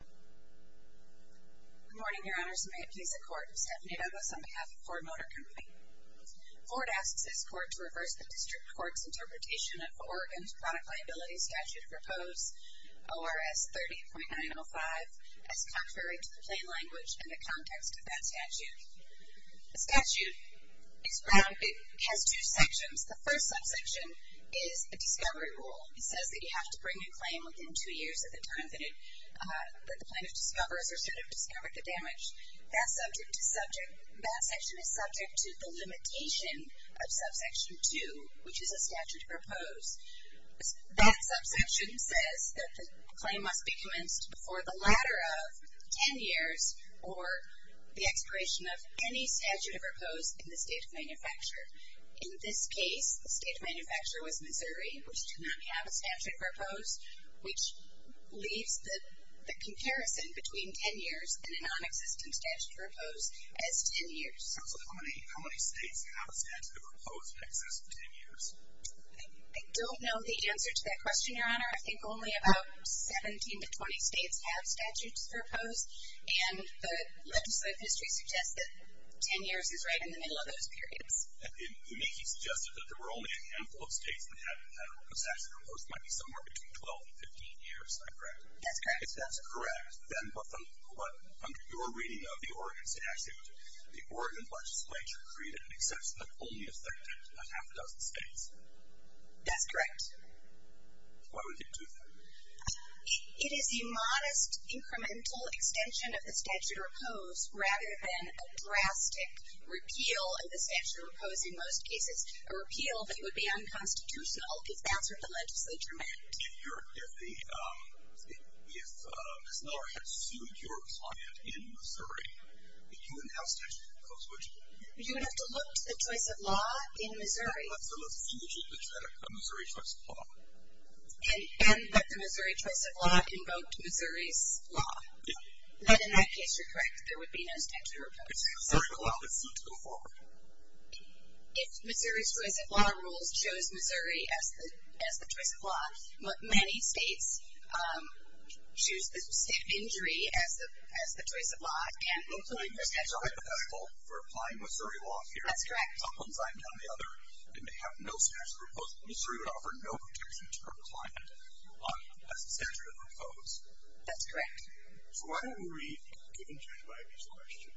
Good morning, Your Honors. May it please the Court, Stephanie Douglas on behalf of Ford Motor Co. Ford asks this Court to reverse the District Court's interpretation of Oregon's Product Liability Statute proposed, ORS 30.905, as contrary to the plain language and the context of that statute. The statute has two sections. The first subsection is a discovery rule. It says that you have to bring a claim within two years of the time that the plaintiff discovers or should have discovered the damage. That section is subject to the limitation of subsection 2, which is a statute of repose. That subsection says that the claim must be commenced before the latter of ten years or the expiration of any statute of repose in the state of manufacture. In this case, the state of manufacture was Missouri, which did not have a statute of repose, which leaves the comparison between ten years and a nonexistent statute of repose as ten years. So how many states have a statute of repose that exists for ten years? I don't know the answer to that question, Your Honor. I think only about 17 to 20 states have statutes of repose, and the legislative history suggests that ten years is right in the middle of those periods. Uniquely suggested that there were only a handful of states that had a statute of repose. It might be somewhere between 12 and 15 years. Is that correct? That's correct. If that's correct, then under your reading of the Oregon statute, the Oregon legislature created an exception that only affected half a dozen states. That's correct. Why would they do that? It is a modest incremental extension of the statute of repose rather than a drastic repeal of the statute of repose in most cases. A repeal that would be unconstitutional is the answer the legislature meant. If Ms. Miller had sued your client in Missouri, would you have a statute of repose? You would have to look to the choice of law in Missouri. And that the Missouri choice of law invoked Missouri's law. In that case, you're correct. There would be no statute of repose in Missouri. If Missouri's choice of law rules chose Missouri as the choice of law, many states choose the state of injury as the choice of law. There's a hypothetical for applying Missouri law here. That's correct. On one side or the other, if they have no statute of repose, Missouri would offer no protection to her client as a statute of repose. That's correct. So why don't we read, given Judge Wybie's question,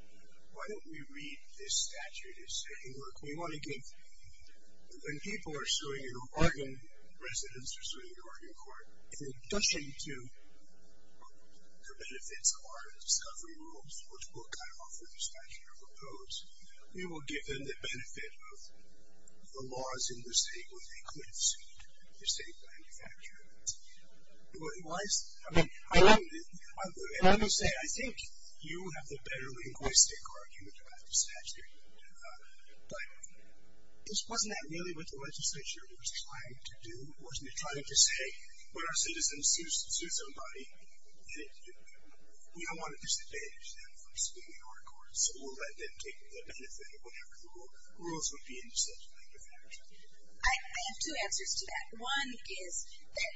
why don't we read this statute as saying, look, when people are suing an Oregon residence or suing an Oregon court, in addition to the benefits of our discovery rules, which will kind of offer the statute of repose, we will give them the benefit of the laws in the state where they could have sued the state manufacturer. Why is that? I mean, let me say, I think you have the better linguistic argument about the statute. But wasn't that really what the legislature was trying to do? Wasn't it trying to say, when our citizens sue somebody, we don't want to disadvantage them from suing our courts, or let them take the benefit of whatever the rules would be in such a matter of fact? I have two answers to that. One is that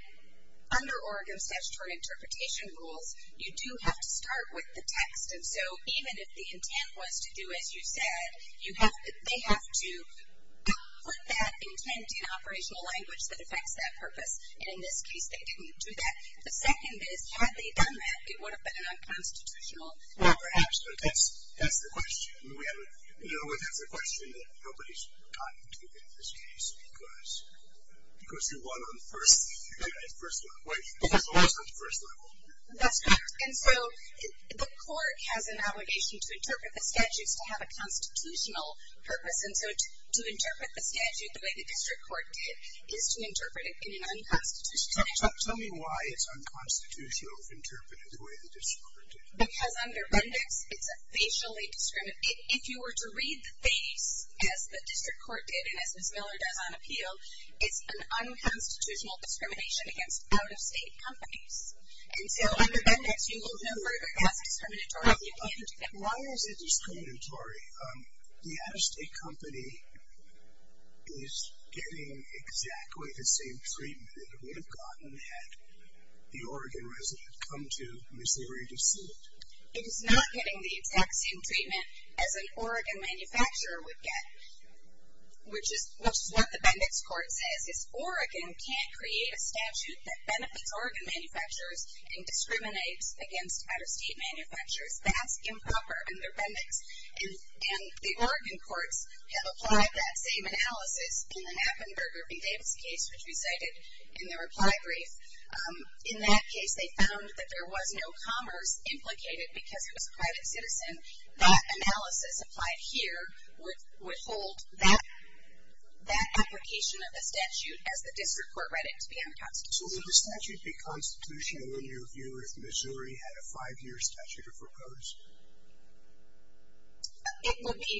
under Oregon statutory interpretation rules, you do have to start with the text. And so even if the intent was to do as you said, they have to put that intent in operational language that affects that purpose. And in this case, they didn't do that. The second is, had they done that, it would have been an unconstitutional effort. Absolutely. That's the question. We have a question that nobody's gotten to in this case because you won on the first level. That's correct. And so the court has an obligation to interpret the statutes to have a constitutional purpose. And so to interpret the statute the way the district court did is to interpret it in an unconstitutional way. Tell me why it's unconstitutional to interpret it the way the district court did. Because under Bendix, it's a facially discriminatory. If you were to read the face as the district court did and as Ms. Miller does on appeal, it's an unconstitutional discrimination against out-of-state companies. And so under Bendix, you will no further ask discriminatory. Why is it discriminatory? The out-of-state company is getting exactly the same treatment that it would have gotten had the Oregon resident come to Missouri to see it. It is not getting the exact same treatment as an Oregon manufacturer would get, which is what the Bendix court says. It's Oregon can't create a statute that benefits Oregon manufacturers and discriminates against out-of-state manufacturers. That's improper under Bendix. And the Oregon courts have applied that same analysis in the Knappenberger v. Davis case, which we cited in the reply brief. In that case, they found that there was no commerce implicated because it was a private citizen. That analysis applied here would hold that application of the statute as the district court read it to be unconstitutional. So would the statute be constitutional in your view if Missouri had a five-year statute of repose? It would be.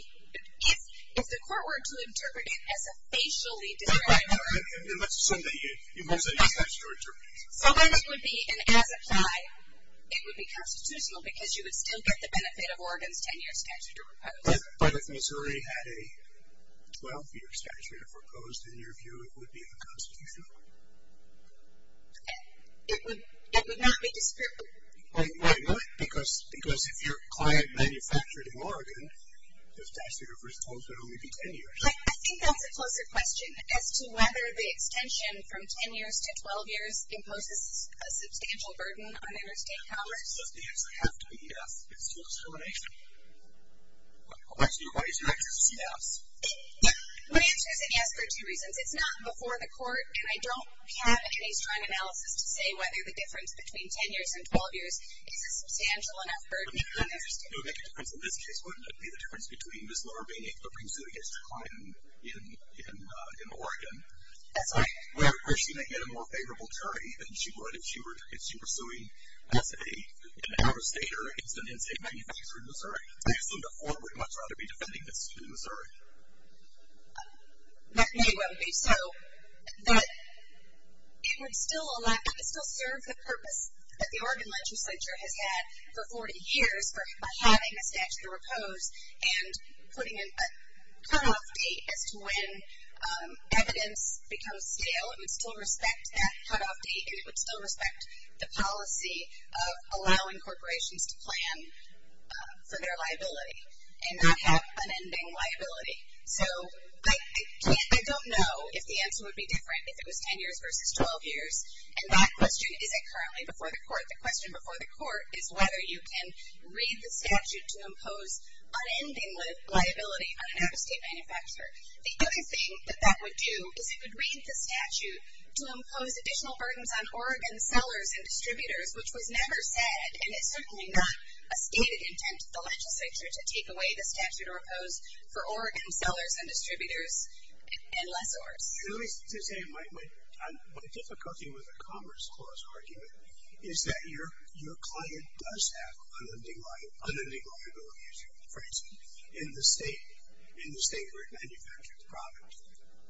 If the court were to interpret it as a facially discriminatory. So then it would be an as-applied. It would be constitutional because you would still get the benefit of Oregon's 10-year statute of repose. But if Missouri had a 12-year statute of repose, then in your view it would be unconstitutional? It would not be discriminatory. Why not? Because if your client manufactured in Oregon, the statute of repose would only be 10 years. I think that's a closer question as to whether the extension from 10 years to 12 years imposes a substantial burden on interstate commerce. Does the answer have to be yes? It's still discrimination. Why is your answer yes? My answer is a yes for two reasons. It's not before the court, and I don't have any strong analysis to say whether the difference between 10 years and 12 years is a substantial enough burden on interstate commerce. It would make a difference. In this case, wouldn't it be the difference between Ms. Lohr being able to bring suit against her client in Oregon? That's right. Were she going to get a more favorable jury than she would if she were suing as an out-of-state or as an in-state manufacturer in Missouri? I assume the court would much rather be defending Ms. Lohr in Missouri. That may well be so. It would still serve the purpose that the Oregon legislature has had for 40 years for having a statute of repose and putting in a cutoff date as to when evidence becomes stale. It would still respect that cutoff date, and it would still respect the policy of allowing corporations to plan for their liability and not have unending liability. So I don't know if the answer would be different if it was 10 years versus 12 years, and that question isn't currently before the court. The question before the court is whether you can read the statute to impose unending liability on an out-of-state manufacturer. The only thing that that would do is it would read the statute to impose additional burdens on Oregon sellers and distributors, which was never said, and it's certainly not a stated intent of the legislature to take away the statute of repose for Oregon sellers and distributors and lessors. And let me just say my difficulty with the Commerce Clause argument is that your client does have unending liability, for instance, in the state where it manufactured the product.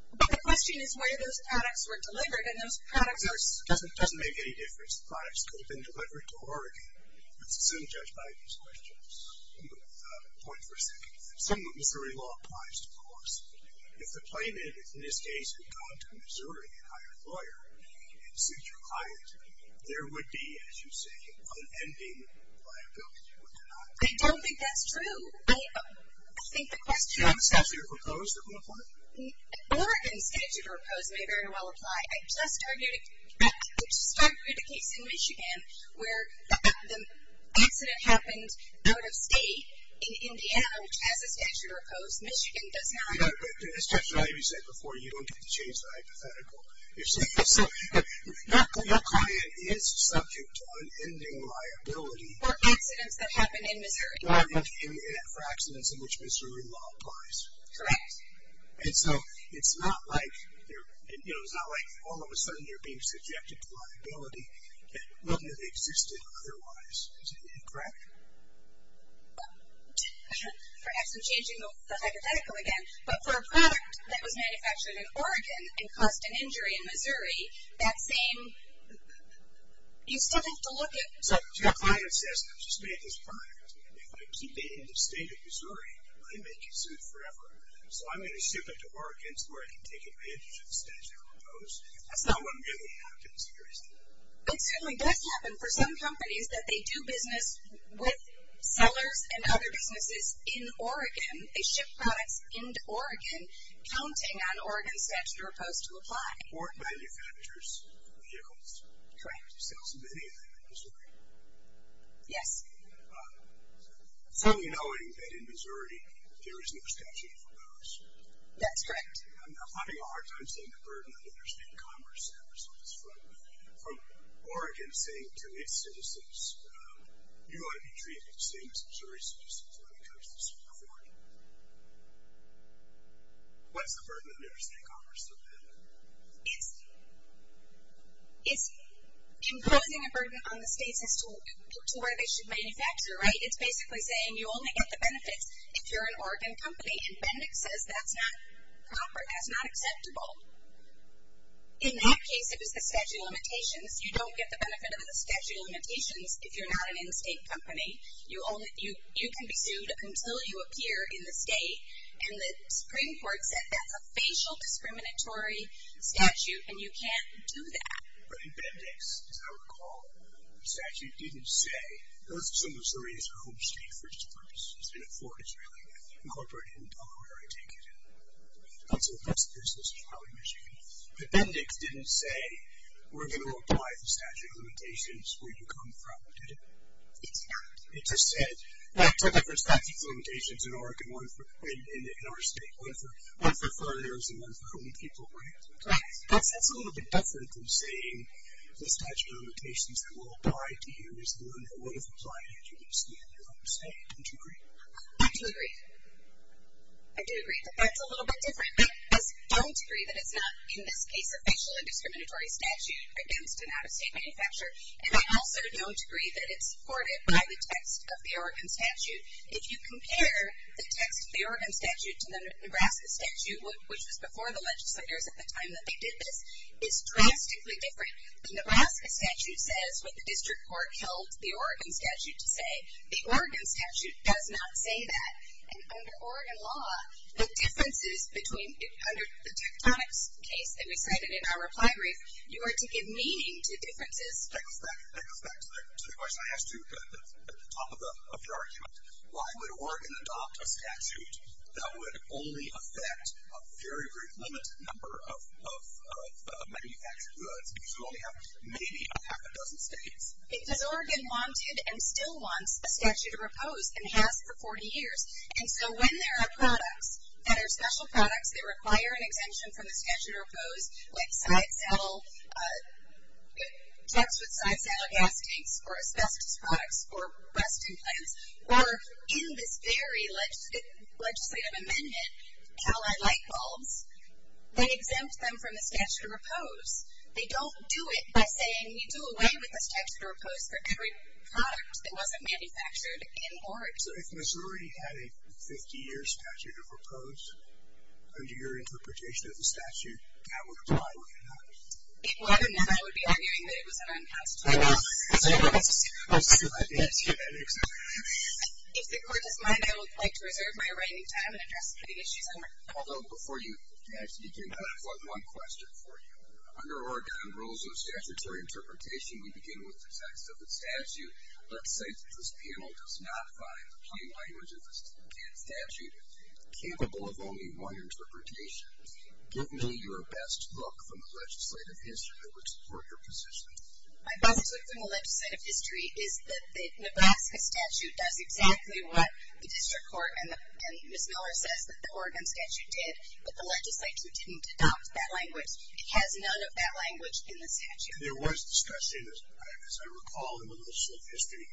But the question is where those products were delivered, and those products were... It doesn't make any difference. The products could have been delivered to Oregon. It's soon judged by these questions. Point for a second. Some Missouri law applies, of course. If the plaintiff, in this case, had gone to Missouri and hired a lawyer and sued your client, there would be, as you say, unending liability. Would there not? I don't think that's true. I think the question... Do you have a statute of repose that would apply? Oregon's statute of repose may very well apply. I just argued a case in Michigan where the accident happened out of state in Indiana, which has a statute of repose. Michigan does not. I just want to remind you, as you said before, you don't get to change the hypothetical. Your client is subject to unending liability. For accidents that happen in Missouri. For accidents in which Missouri law applies. Correct. And so it's not like all of a sudden you're being subjected to liability that wouldn't have existed otherwise. Is that correct? Perhaps I'm changing the hypothetical again. But for a product that was manufactured in Oregon and caused an injury in Missouri, that same... You still have to look at... So your client says, I just made this product. If I keep it in the state of Missouri, I may sue forever. So I'm going to ship it to Oregon so I can take advantage of the statute of repose. That's not what really happens here, is it? It certainly does happen for some companies that they do business with sellers and other businesses in Oregon. They ship products into Oregon, counting on Oregon's statute of repose to apply. Or it manufactures vehicles. Correct. It sells many of them in Missouri. Yes. Certainly knowing that in Missouri there is no statute of repose. That's correct. I'm having a hard time seeing the burden on interstate commerce ever since. From Oregon saying to its citizens, you ought to be treated the same as Missouri citizens when it comes to support. What's the burden on interstate commerce? It's imposing a burden on the states as to where they should manufacture, right? It's basically saying you only get the benefits if you're an Oregon company. And Bendix says that's not proper, that's not acceptable. In that case, it was the statute of limitations. You don't get the benefit of the statute of limitations if you're not an in-state company. You can be sued until you appear in the state. And the Supreme Court said that's a facial discriminatory statute and you can't do that. But in Bendix, as I recall, the statute didn't say, those are some Missourians who are home state for its purpose. It's been a foreign Israeli incorporated in Delaware, I take it. That's the business of Howard, Michigan. But Bendix didn't say we're going to apply the statute of limitations where you come from, did it? It's not. It just said, well, I took it for statute of limitations in Oregon, in our state. One for foreigners and one for home people. That's a little bit different than saying the statute of limitations that will apply to you is the one that would have applied to you in your own state. Don't you agree? I do agree. I do agree, but that's a little bit different. I don't agree that it's not, in this case, a facial and discriminatory statute against an out-of-state manufacturer. And I also don't agree that it's supported by the text of the Oregon statute. If you compare the text of the Oregon statute to the Nebraska statute, which was before the legislators at the time that they did this, it's drastically different. The Nebraska statute says what the district court held the Oregon statute to say. The Oregon statute does not say that. And under Oregon law, the differences between, under the tectonics case that we cited in our reply brief, you are to give meaning to differences. That goes back to the question I asked you at the top of the argument. Why would Oregon adopt a statute that would only affect a very, very limited number of manufactured goods? You should only have maybe a half a dozen states. Because Oregon wanted and still wants a statute of repose and has for 40 years. And so when there are products that are special products that require an exemption from the statute of repose, like side-saddle, text with side-saddle gas tanks, or asbestos products, or Weston plants, or in this very legislative amendment, Cali light bulbs, they exempt them from the statute of repose. They don't do it by saying you do away with the statute of repose for every product that wasn't manufactured in Oregon. So if Missouri had a 50-year statute of repose, under your interpretation of the statute, that would apply or would it not? Well, I don't know. I would be arguing that it was an unconstitutional act. I see. I didn't hear that exactly. If the court doesn't mind, I would like to reserve my remaining time and address the committee's issues. Although, before you actually begin, I have one question for you. Under Oregon rules of statutory interpretation, we begin with the text of the statute. Let's say that this panel does not find the plain language of the statute capable of only one interpretation. Give me your best look from the legislative history that would support your position. My best look from the legislative history is that the Nebraska statute does exactly what the district court and Ms. Miller says that the Oregon statute did, but the legislature didn't adopt that language. There was discussion, as I recall, in the legislative history.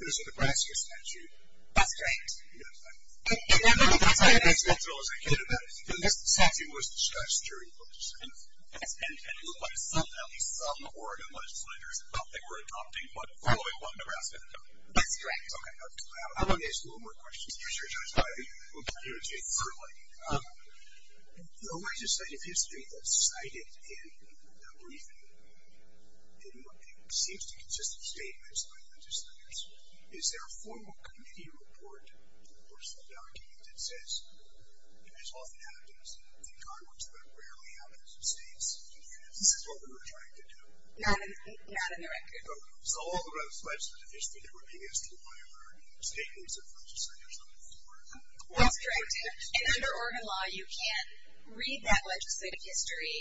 There was a Nebraska statute. That's correct. I'm not as accidental as I could have been. This statute was discussed during the legislative history. And it looked like at least some Oregon legislators felt they were adopting what Nebraska adopted. That's correct. Okay. I want to ask you one more question. You're sure, Judge Breyer? We'll get you into it shortly. The legislative history that's cited in the briefing, it seems to consist of statements by legislators. Is there a formal committee report or some document that says, and this often happens in Congress, but rarely happens in states? This is what we were trying to do. Not in the record. Okay. So all of the legislative history that we're doing is to acquire statements of legislators on the floor. That's correct. And under Oregon law, you can read that legislative history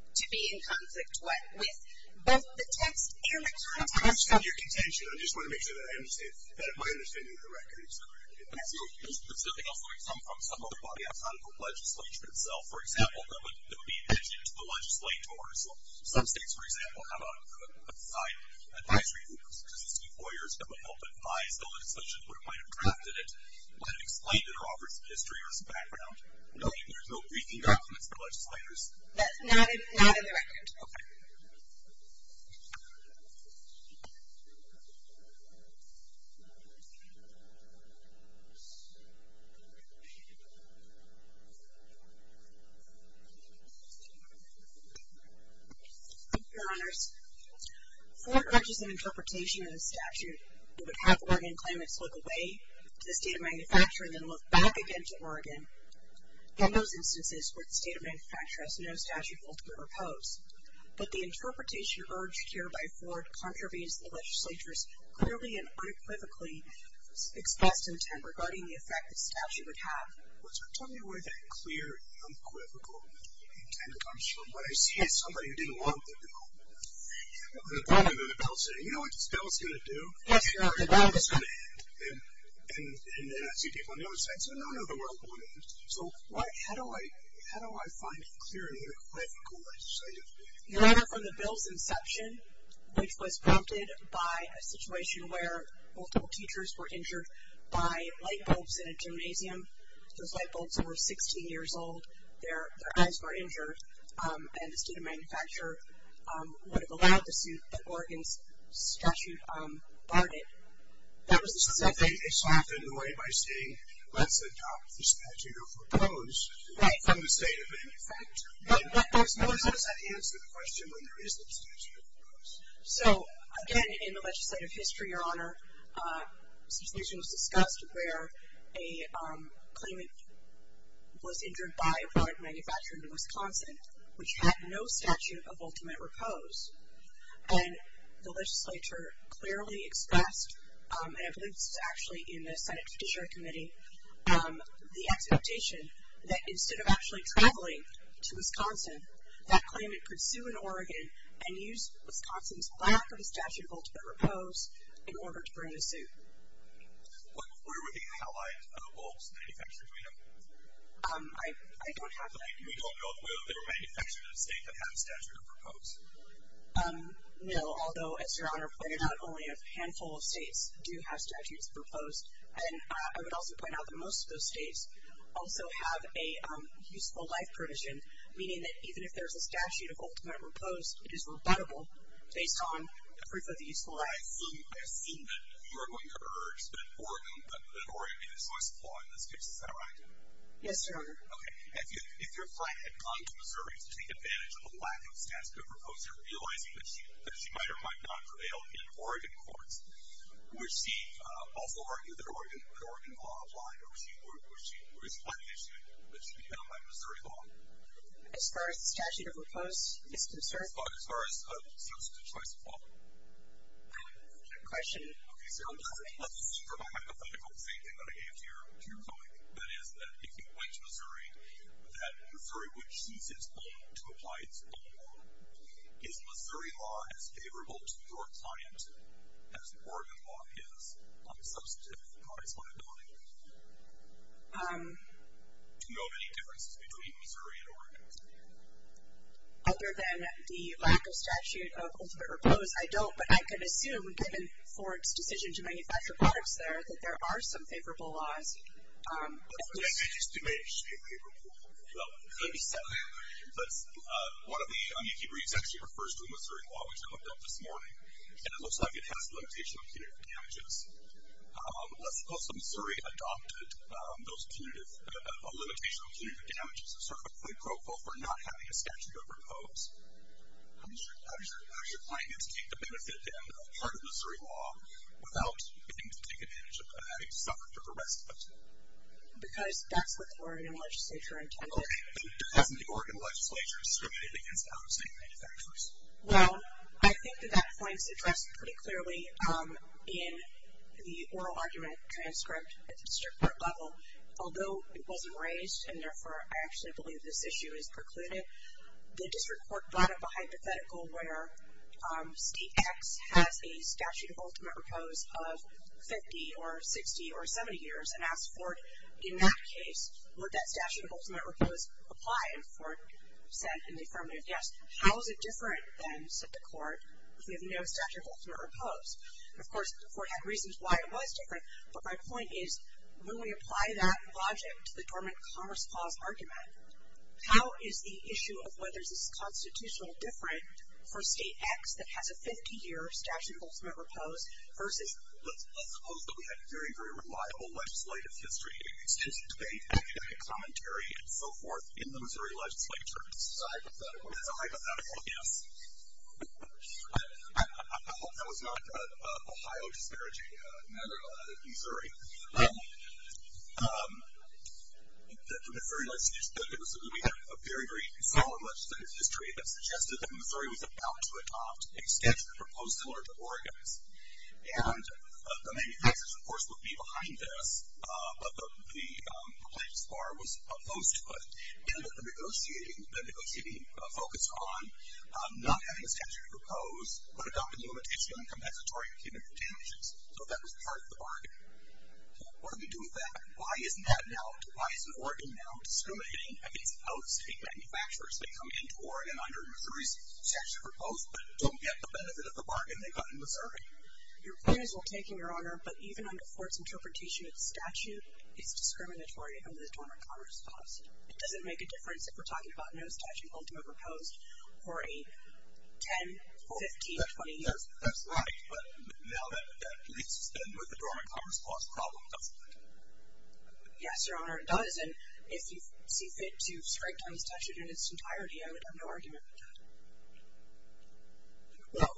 to be in conflict with both the text and the context. I understand your contention. I just want to make sure that my understanding of the record is correct. Absolutely. If something else were to come from some other body outside of the legislature itself, for example, that would be an issue to the legislators. Some states, for example, have an advisory group. Does the state lawyers have an open eye so that such a group might have drafted it, might have explained it, or offered some history or some background? No. There's no briefing documents for legislators? Okay. Thank you, Your Honors. Ford urges an interpretation of the statute that would have Oregon claimants look away to the state of Manufacture and then look back again to Oregon in those instances where the state of Manufacture has no statute of ultimate oppose. But the interpretation urged here by Ford contravenes the legislature's clearly and unequivocally expressed intent regarding the effect the statute would have. Well, tell me where that clear, unequivocal intent comes from. When I see somebody who didn't want the bill on the bottom of the bill saying, you know what this bill is going to do? Yes, Your Honor, the bill is going to end. And then I see people on the other side saying, no, no, the world won't end. So how do I find a clear and unequivocal way to say this? Your Honor, from the bill's inception, which was prompted by a situation where multiple teachers were injured by light bulbs in a gymnasium, those light bulbs were 16 years old, their eyes were injured, and the state of Manufacture would have allowed the suit, but Oregon's statute barred it. So they softened the way by saying, let's adopt the statute of oppose from the state of Manufacture. Does that answer the question when there is no statute of oppose? So, again, in the legislative history, Your Honor, a situation was discussed where a claimant was injured by a bulb manufacturer in Wisconsin, which had no statute of ultimate oppose. And the legislature clearly expressed, and I believe this is actually in the Senate Judiciary Committee, the expectation that instead of actually traveling to Wisconsin, that claimant could sue in Oregon and use Wisconsin's lack of a statute of ultimate oppose in order to bring the suit. Were there any allied bulbs manufacturers we know of? I don't have that. We don't know if there were manufacturers in the state that had a statute of oppose? No, although, as Your Honor pointed out, only a handful of states do have statutes of oppose. And I would also point out that most of those states also have a useful life provision, meaning that even if there's a statute of ultimate oppose, it is rebuttable based on proof of the useful life. I assume that you are going to urge that Oregon be the choice of law in this case. Is that right? Yes, Your Honor. Okay. If your client had gone to Missouri to take advantage of a lack of statute of oppose, you're realizing that she might or might not prevail in Oregon courts, would she also argue that Oregon law applied, or is it not an issue that should be penalized by Missouri law? As far as statute of oppose is concerned? As far as substantive choice of law. I have a question. Okay. So let's assume for hypothetical the same thing that I gave to your colleague, that is that if you went to Missouri, that Missouri would choose its own to apply its own law. Is Missouri law as favorable to your client as Oregon law is on the substantive side of things? Do you know of any differences between Missouri and Oregon? Other than the lack of statute of oppose, I don't, but I can assume given Ford's decision to manufacture products there, that there are some favorable laws. I just do manage to say favorable. Well, let me say that. One of the un-UQ briefs actually refers to a Missouri law, which I looked up this morning, and it looks like it has a limitation on punitive damages. Let's suppose that Missouri adopted those punitive, a limitation on punitive damages as sort of a pre-proposal for not having a statute of oppose. How does your client get to take the benefit in part of Missouri law without getting to take advantage of having to suffer for the rest of it? Because that's what the Oregon legislature intended. Okay. Doesn't the Oregon legislature discriminate against out-of-state manufacturers? Well, I think that that point is addressed pretty clearly in the oral argument transcript at the district court level, although it wasn't raised, and therefore I actually believe this issue is precluded. The district court brought up a hypothetical where state X has a statute of ultimate oppose of 50 or 60 or 70 years, and asked Ford in that case would that statute of ultimate oppose apply, and Ford said in the affirmative, yes. How is it different then, said the court, if we have no statute of ultimate oppose? Of course, Ford had reasons why it was different, but my point is when we apply that logic to the dormant commerce clause argument, how is the issue of whether this is constitutional different for state X that has a 50-year statute of ultimate oppose versus... Let's suppose that we had very, very reliable legislative history, extensive debate, academic commentary, and so forth in the Missouri legislature. That's a hypothetical, yes. I hope that was not Ohio disparaging another Missouri. The Missouri legislature, we had a very, very solid legislative history that suggested that Missouri was about to adopt a statute proposed similar to Oregon's, and the manufacturers, of course, would be behind this, but the plaintiff's bar was opposed to it, and the negotiating focused on not having a statute of oppose, but adopting a limitation on compensatory and punitive damages, so that was part of the bargain. What do we do with that? Why isn't that now, why isn't Oregon now discriminating against out-of-state manufacturers that come into Oregon under Missouri's statute of oppose but don't get the benefit of the bargain they got in Missouri? Your point is well taken, Your Honor, but even under Fort's interpretation of the statute, it's discriminatory under the Dormant Commerce Clause. Does it make a difference if we're talking about no statute ultimately proposed for a 10, 15, 20 years? That's right, but now that leads to the Dormant Commerce Clause problem, doesn't it? Yes, Your Honor, it does, and if you see fit to strike down the statute in its entirety, I would have no argument with that. Well,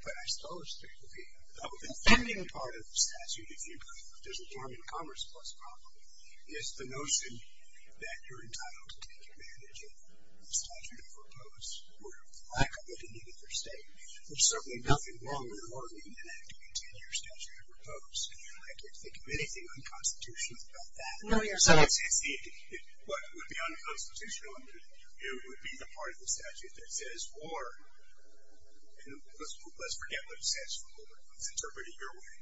but I suppose that the pending part of the statute, if you look at the Dormant Commerce Clause problem, is the notion that you're entitled to take advantage of the statute of oppose or lack of it in either state. There's certainly nothing wrong with Oregon enacting a 10-year statute of oppose. I can't think of anything unconstitutional about that. No, Your Honor. What would be unconstitutional would be the part of the statute that says, or let's forget what it says for a moment. Let's interpret it your way.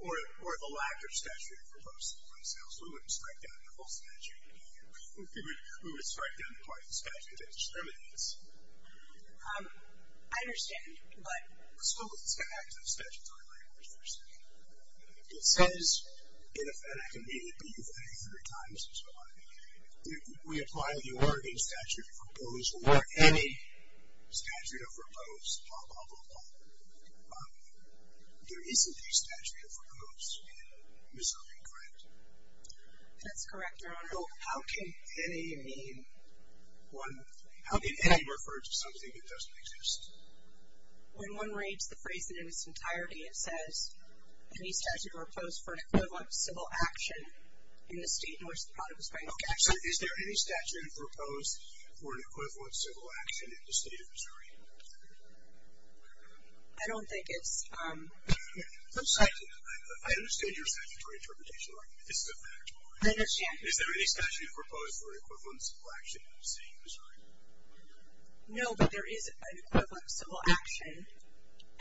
Or the lack of statute of oppose, for instance. We wouldn't strike down the full statute. We would strike down the part of the statute that discriminates. I understand, but... So let's get back to the statute of oppose for a second. If it says in effect immediately, but you've read it a hundred times and so on, we apply the Oregon statute of oppose or any statute of oppose, blah, blah, blah, blah. There isn't a statute of oppose in Missouri, correct? That's correct, Your Honor. How can any mean? How can any refer to something that doesn't exist? Any statute of oppose for an equivalent civil action in the state in which the product is being extracted? Okay, so is there any statute of oppose for an equivalent civil action in the state of Missouri? I don't think it's... I understand your statutory interpretation, Your Honor. This is a fact. I understand. Is there any statute of oppose for an equivalent civil action in the state of Missouri? No, but there is an equivalent civil action,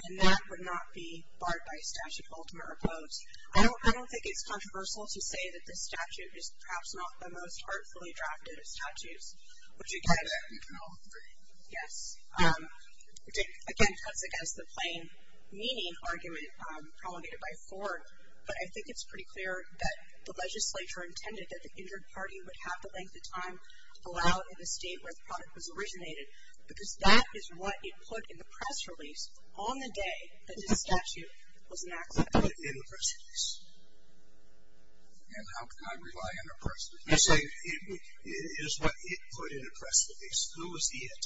and that would not be barred by a statute of ultimate oppose. I don't think it's controversial to say that this statute is perhaps not the most artfully drafted of statutes, which again... No. Yes. Again, that's against the plain meaning argument promulgated by Ford, but I think it's pretty clear that the legislature intended that the injured party would have the length of time to allow it in the state where the product was originated, because that is what it put in the press release on the day that this statute was enacted. What did it put in the press release? And how can I rely on a press release? You're saying it is what it put in the press release. Who was it?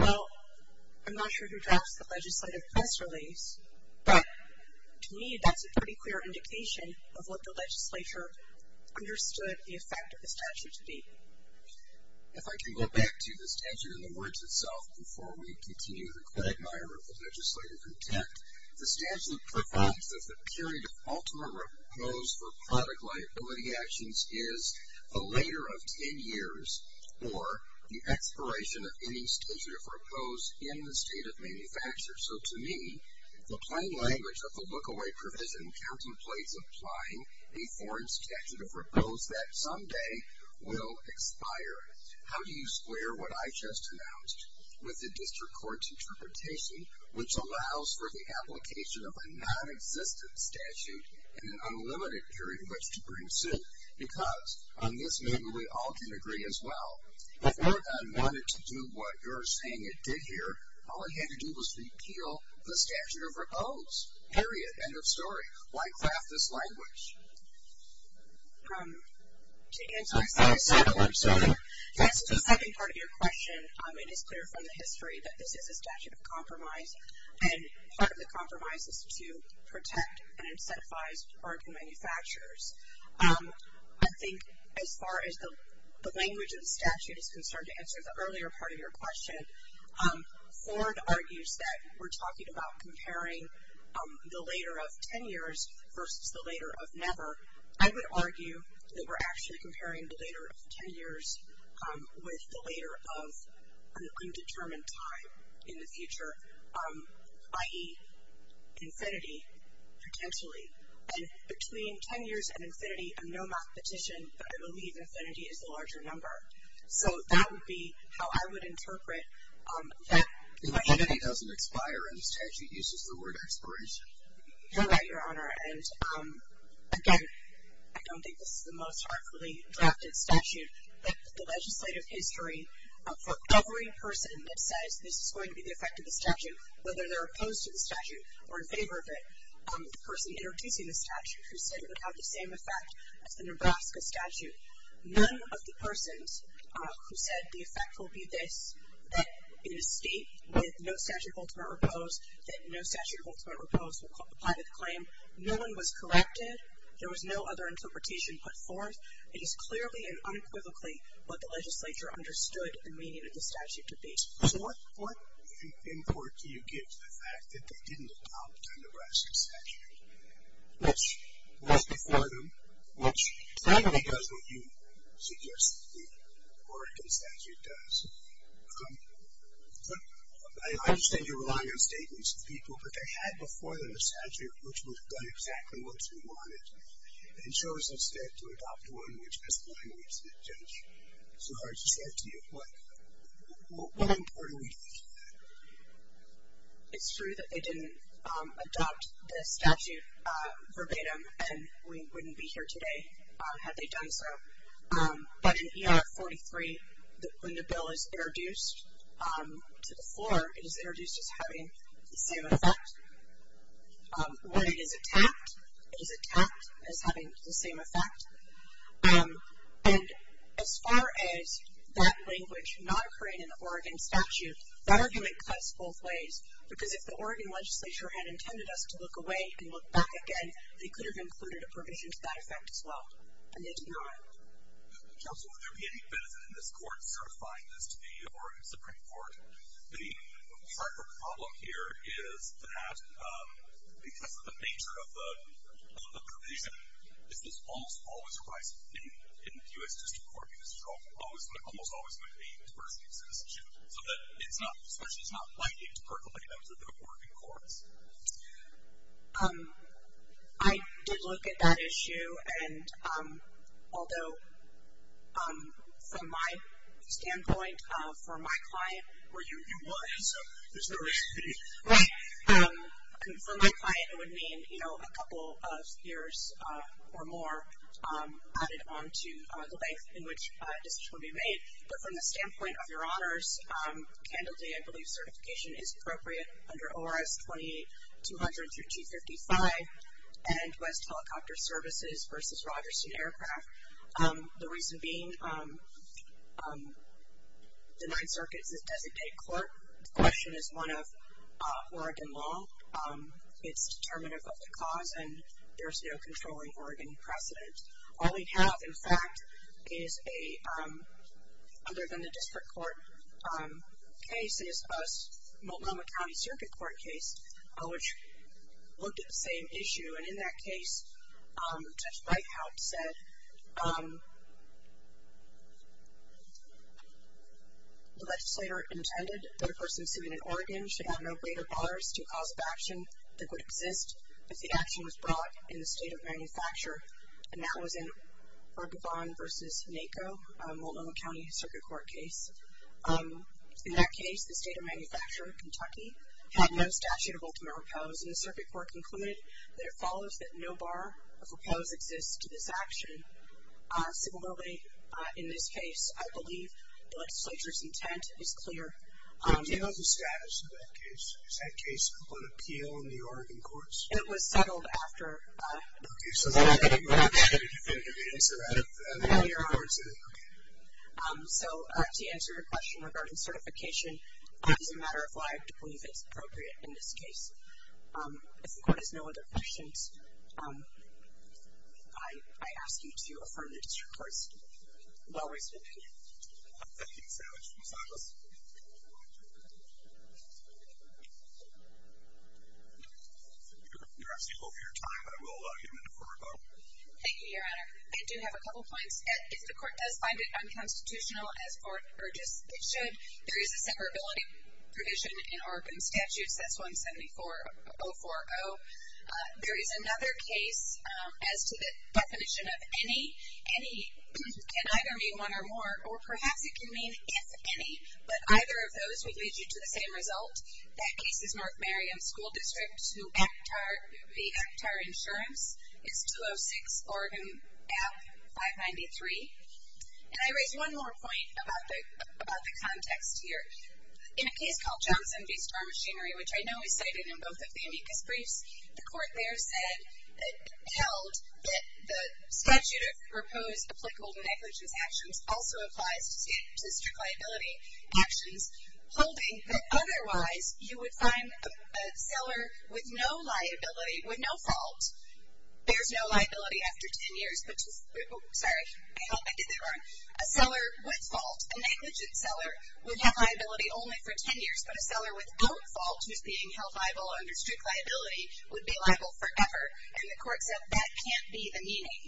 Well, I'm not sure who drafts the legislative press release, but to me that's a pretty clear indication of what the legislature understood the effect of the statute to be. If I can go back to the statute in the words itself before we continue the quagmire of the legislative intent, the statute provides that the period of ultimate oppose for product liability actions is a later of ten years or the expiration of any statute of oppose in the state of manufacture. So to me, the plain language of the look-away provision contemplates applying a foreign statute of oppose that someday will expire. How do you square what I just announced with the district court's interpretation, which allows for the application of a nonexistent statute in an unlimited period of which to bring suit? Because on this, maybe we all can agree as well, if Oregon wanted to do what you're saying it did here, all it had to do was repeal the statute of oppose, period, end of story. Why craft this language? To answer the second part of your question, it is clear from the history that this is a statute of compromise, and part of the compromise is to protect and incentivize Oregon manufacturers. I think as far as the language of the statute is concerned, to answer the earlier part of your question, Ford argues that we're talking about comparing the later of ten years versus the later of never. I would argue that we're actually comparing the later of ten years with the later of an undetermined time in the future, i.e., infinity, potentially. And between ten years and infinity, I'm no mathematician, but I believe infinity is the larger number. So that would be how I would interpret that. If infinity doesn't expire and the statute uses the word expiration. You're right, Your Honor. And, again, I don't think this is the most heartfully drafted statute, but the legislative history for every person that says this is going to be the effect of the statute, whether they're opposed to the statute or in favor of it, the person introducing the statute who said it would have the same effect as the Nebraska statute, none of the persons who said the effect will be this, that in a state with no statute of ultimate repose, that no statute of ultimate repose will apply to the claim, no one was corrected. There was no other interpretation put forth. It is clearly and unequivocally what the legislature understood the meaning of the statute to be. So what import do you give to the fact that they didn't adopt the Nebraska statute, which was before them, which I think does what you suggest the Oregon statute does. I understand you're relying on statements of people, but they had before them a statute which would have done exactly what you wanted and chose instead to adopt one which has the language of the judge. It's so hard to say it to you. What import do we give to that? It's true that they didn't adopt the statute verbatim, and we wouldn't be here today had they done so. But in ER 43, when the bill is introduced to the floor, it is introduced as having the same effect. When it is attacked, it is attacked as having the same effect. And as far as that language not occurring in the Oregon statute, that argument cuts both ways, because if the Oregon legislature had intended us to look away and look back again, they could have included a provision to that effect as well, and they did not. Counsel, would there be any benefit in this court certifying this to the Oregon Supreme Court? The problem here is that because of the nature of the provision, this is almost always a crisis in the U.S. District Court, because there's almost always going to be a diversity of citizenship, so that it's not especially it's not likely to percolate under the Oregon courts. I did look at that issue, and although from my standpoint, for my client, for my client it would mean a couple of years or more added on to the length in which decisions will be made. But from the standpoint of your honors, candidly, I believe certification is appropriate under ORS 2200 through 255 and West Helicopter Services v. Rogerston Aircraft, the reason being the Ninth Circuit's designated court question is one of Oregon law. It's determinative of the cause, and there's no controlling Oregon precedent. All we have, in fact, is a, other than the District Court case, is a Multnomah County Circuit Court case, which looked at the same issue, and in that case Judge Reichhardt said the legislator intended that a person sued in Oregon should have no greater bothers to a cause of action that would exist if the action was brought in the state of manufacture, and that was in Urgevon v. Naco, Multnomah County Circuit Court case. In that case, the state of manufacture, Kentucky, had no statute of ultimate repose, and the circuit court concluded that it follows that no bar of repose exists to this action. Similarly, in this case, I believe the legislator's intent is clear. Do you know the status of that case? Is that case on appeal in the Oregon courts? It was settled after. Okay, so I'm not going to give you an answer out of your own words, is it? Okay. So, to answer your question regarding certification, it's a matter of why I believe it's appropriate in this case. If the court has no other questions, I ask you to affirm the District Court's well-reasoned opinion. Thank you so much, Ms. Ellis. You're actually over your time. I will give an affirmative vote. Thank you, Your Honor. I do have a couple of points. If the court does find it unconstitutional as for Urgevon, it should. There is a severability provision in Oregon statutes. That's 174-040. So, there is another case as to the definition of any. Any can either mean one or more, or perhaps it can mean if any, but either of those would lead you to the same result. That case is North Merriam School District to Actar. The Actar insurance is 206 Oregon App 593. And I raise one more point about the context here. In a case called Johnson v. Star Machinery, which I know is cited in both of the amicus briefs, the court there held that the statute of proposed applicable to negligence actions also applies to district liability actions, holding that otherwise you would find a seller with no liability, with no fault. There's no liability after ten years. Sorry, I did that wrong. A seller with fault, a negligent seller, would have liability only for ten years, but a seller without fault, who's being held liable under strict liability, would be liable forever. And the court said that can't be the meaning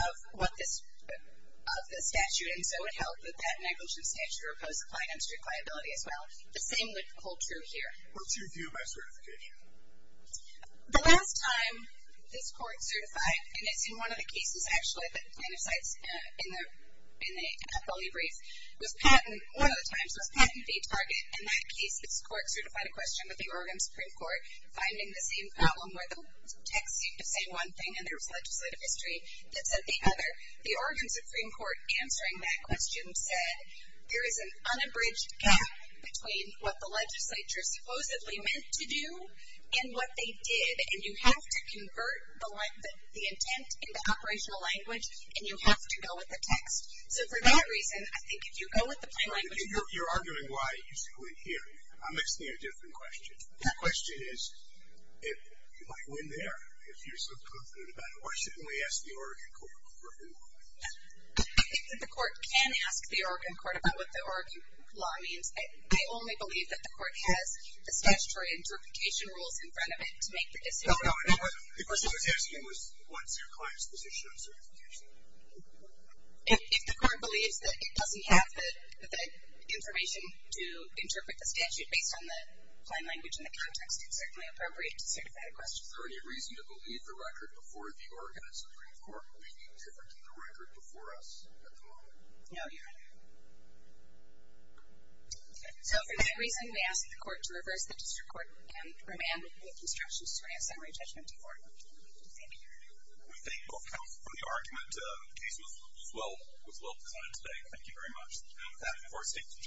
of what this, of the statute. And so it held that that negligent statute of proposed applied on strict liability as well. The same would hold true here. What's your view of my certification? The last time this court certified, and it's in one of the cases, actually, that kind of cites in the appellee brief, was patent, one of the times, was patent v. Target. In that case, this court certified a question with the Oregon Supreme Court, finding the same problem where the text seemed to say one thing and there was legislative history that said the other. The Oregon Supreme Court answering that question said there is an unabridged gap between what the legislature supposedly meant to do and what they did, and you have to convert the intent into operational language, and you have to go with the text. So for that reason, I think if you go with the plain language, you're arguing why it used to go in here. I'm asking you a different question. The question is, like, when there, if you're so confident about it, why shouldn't we ask the Oregon court for who it was? I think that the court can ask the Oregon court about what the Oregon law means. I only believe that the court has the statutory interpretation rules in front of it to make the decision. No, no, the question I was asking was what's your client's position on certification? If the court believes that it doesn't have the information to interpret the statute based on the plain language and the context, it's certainly appropriate to certify the question. Is there any reason to believe the record before the Oregon Supreme Court may be different to the record before us at the moment? No, Your Honor. Okay. So for that reason, we ask the court to reverse the district court and remand with instructions to grant summary judgment to the court. Thank you. We thank both counsels for the argument. The case was well designed today. Thank you very much. That, of course, takes a turn.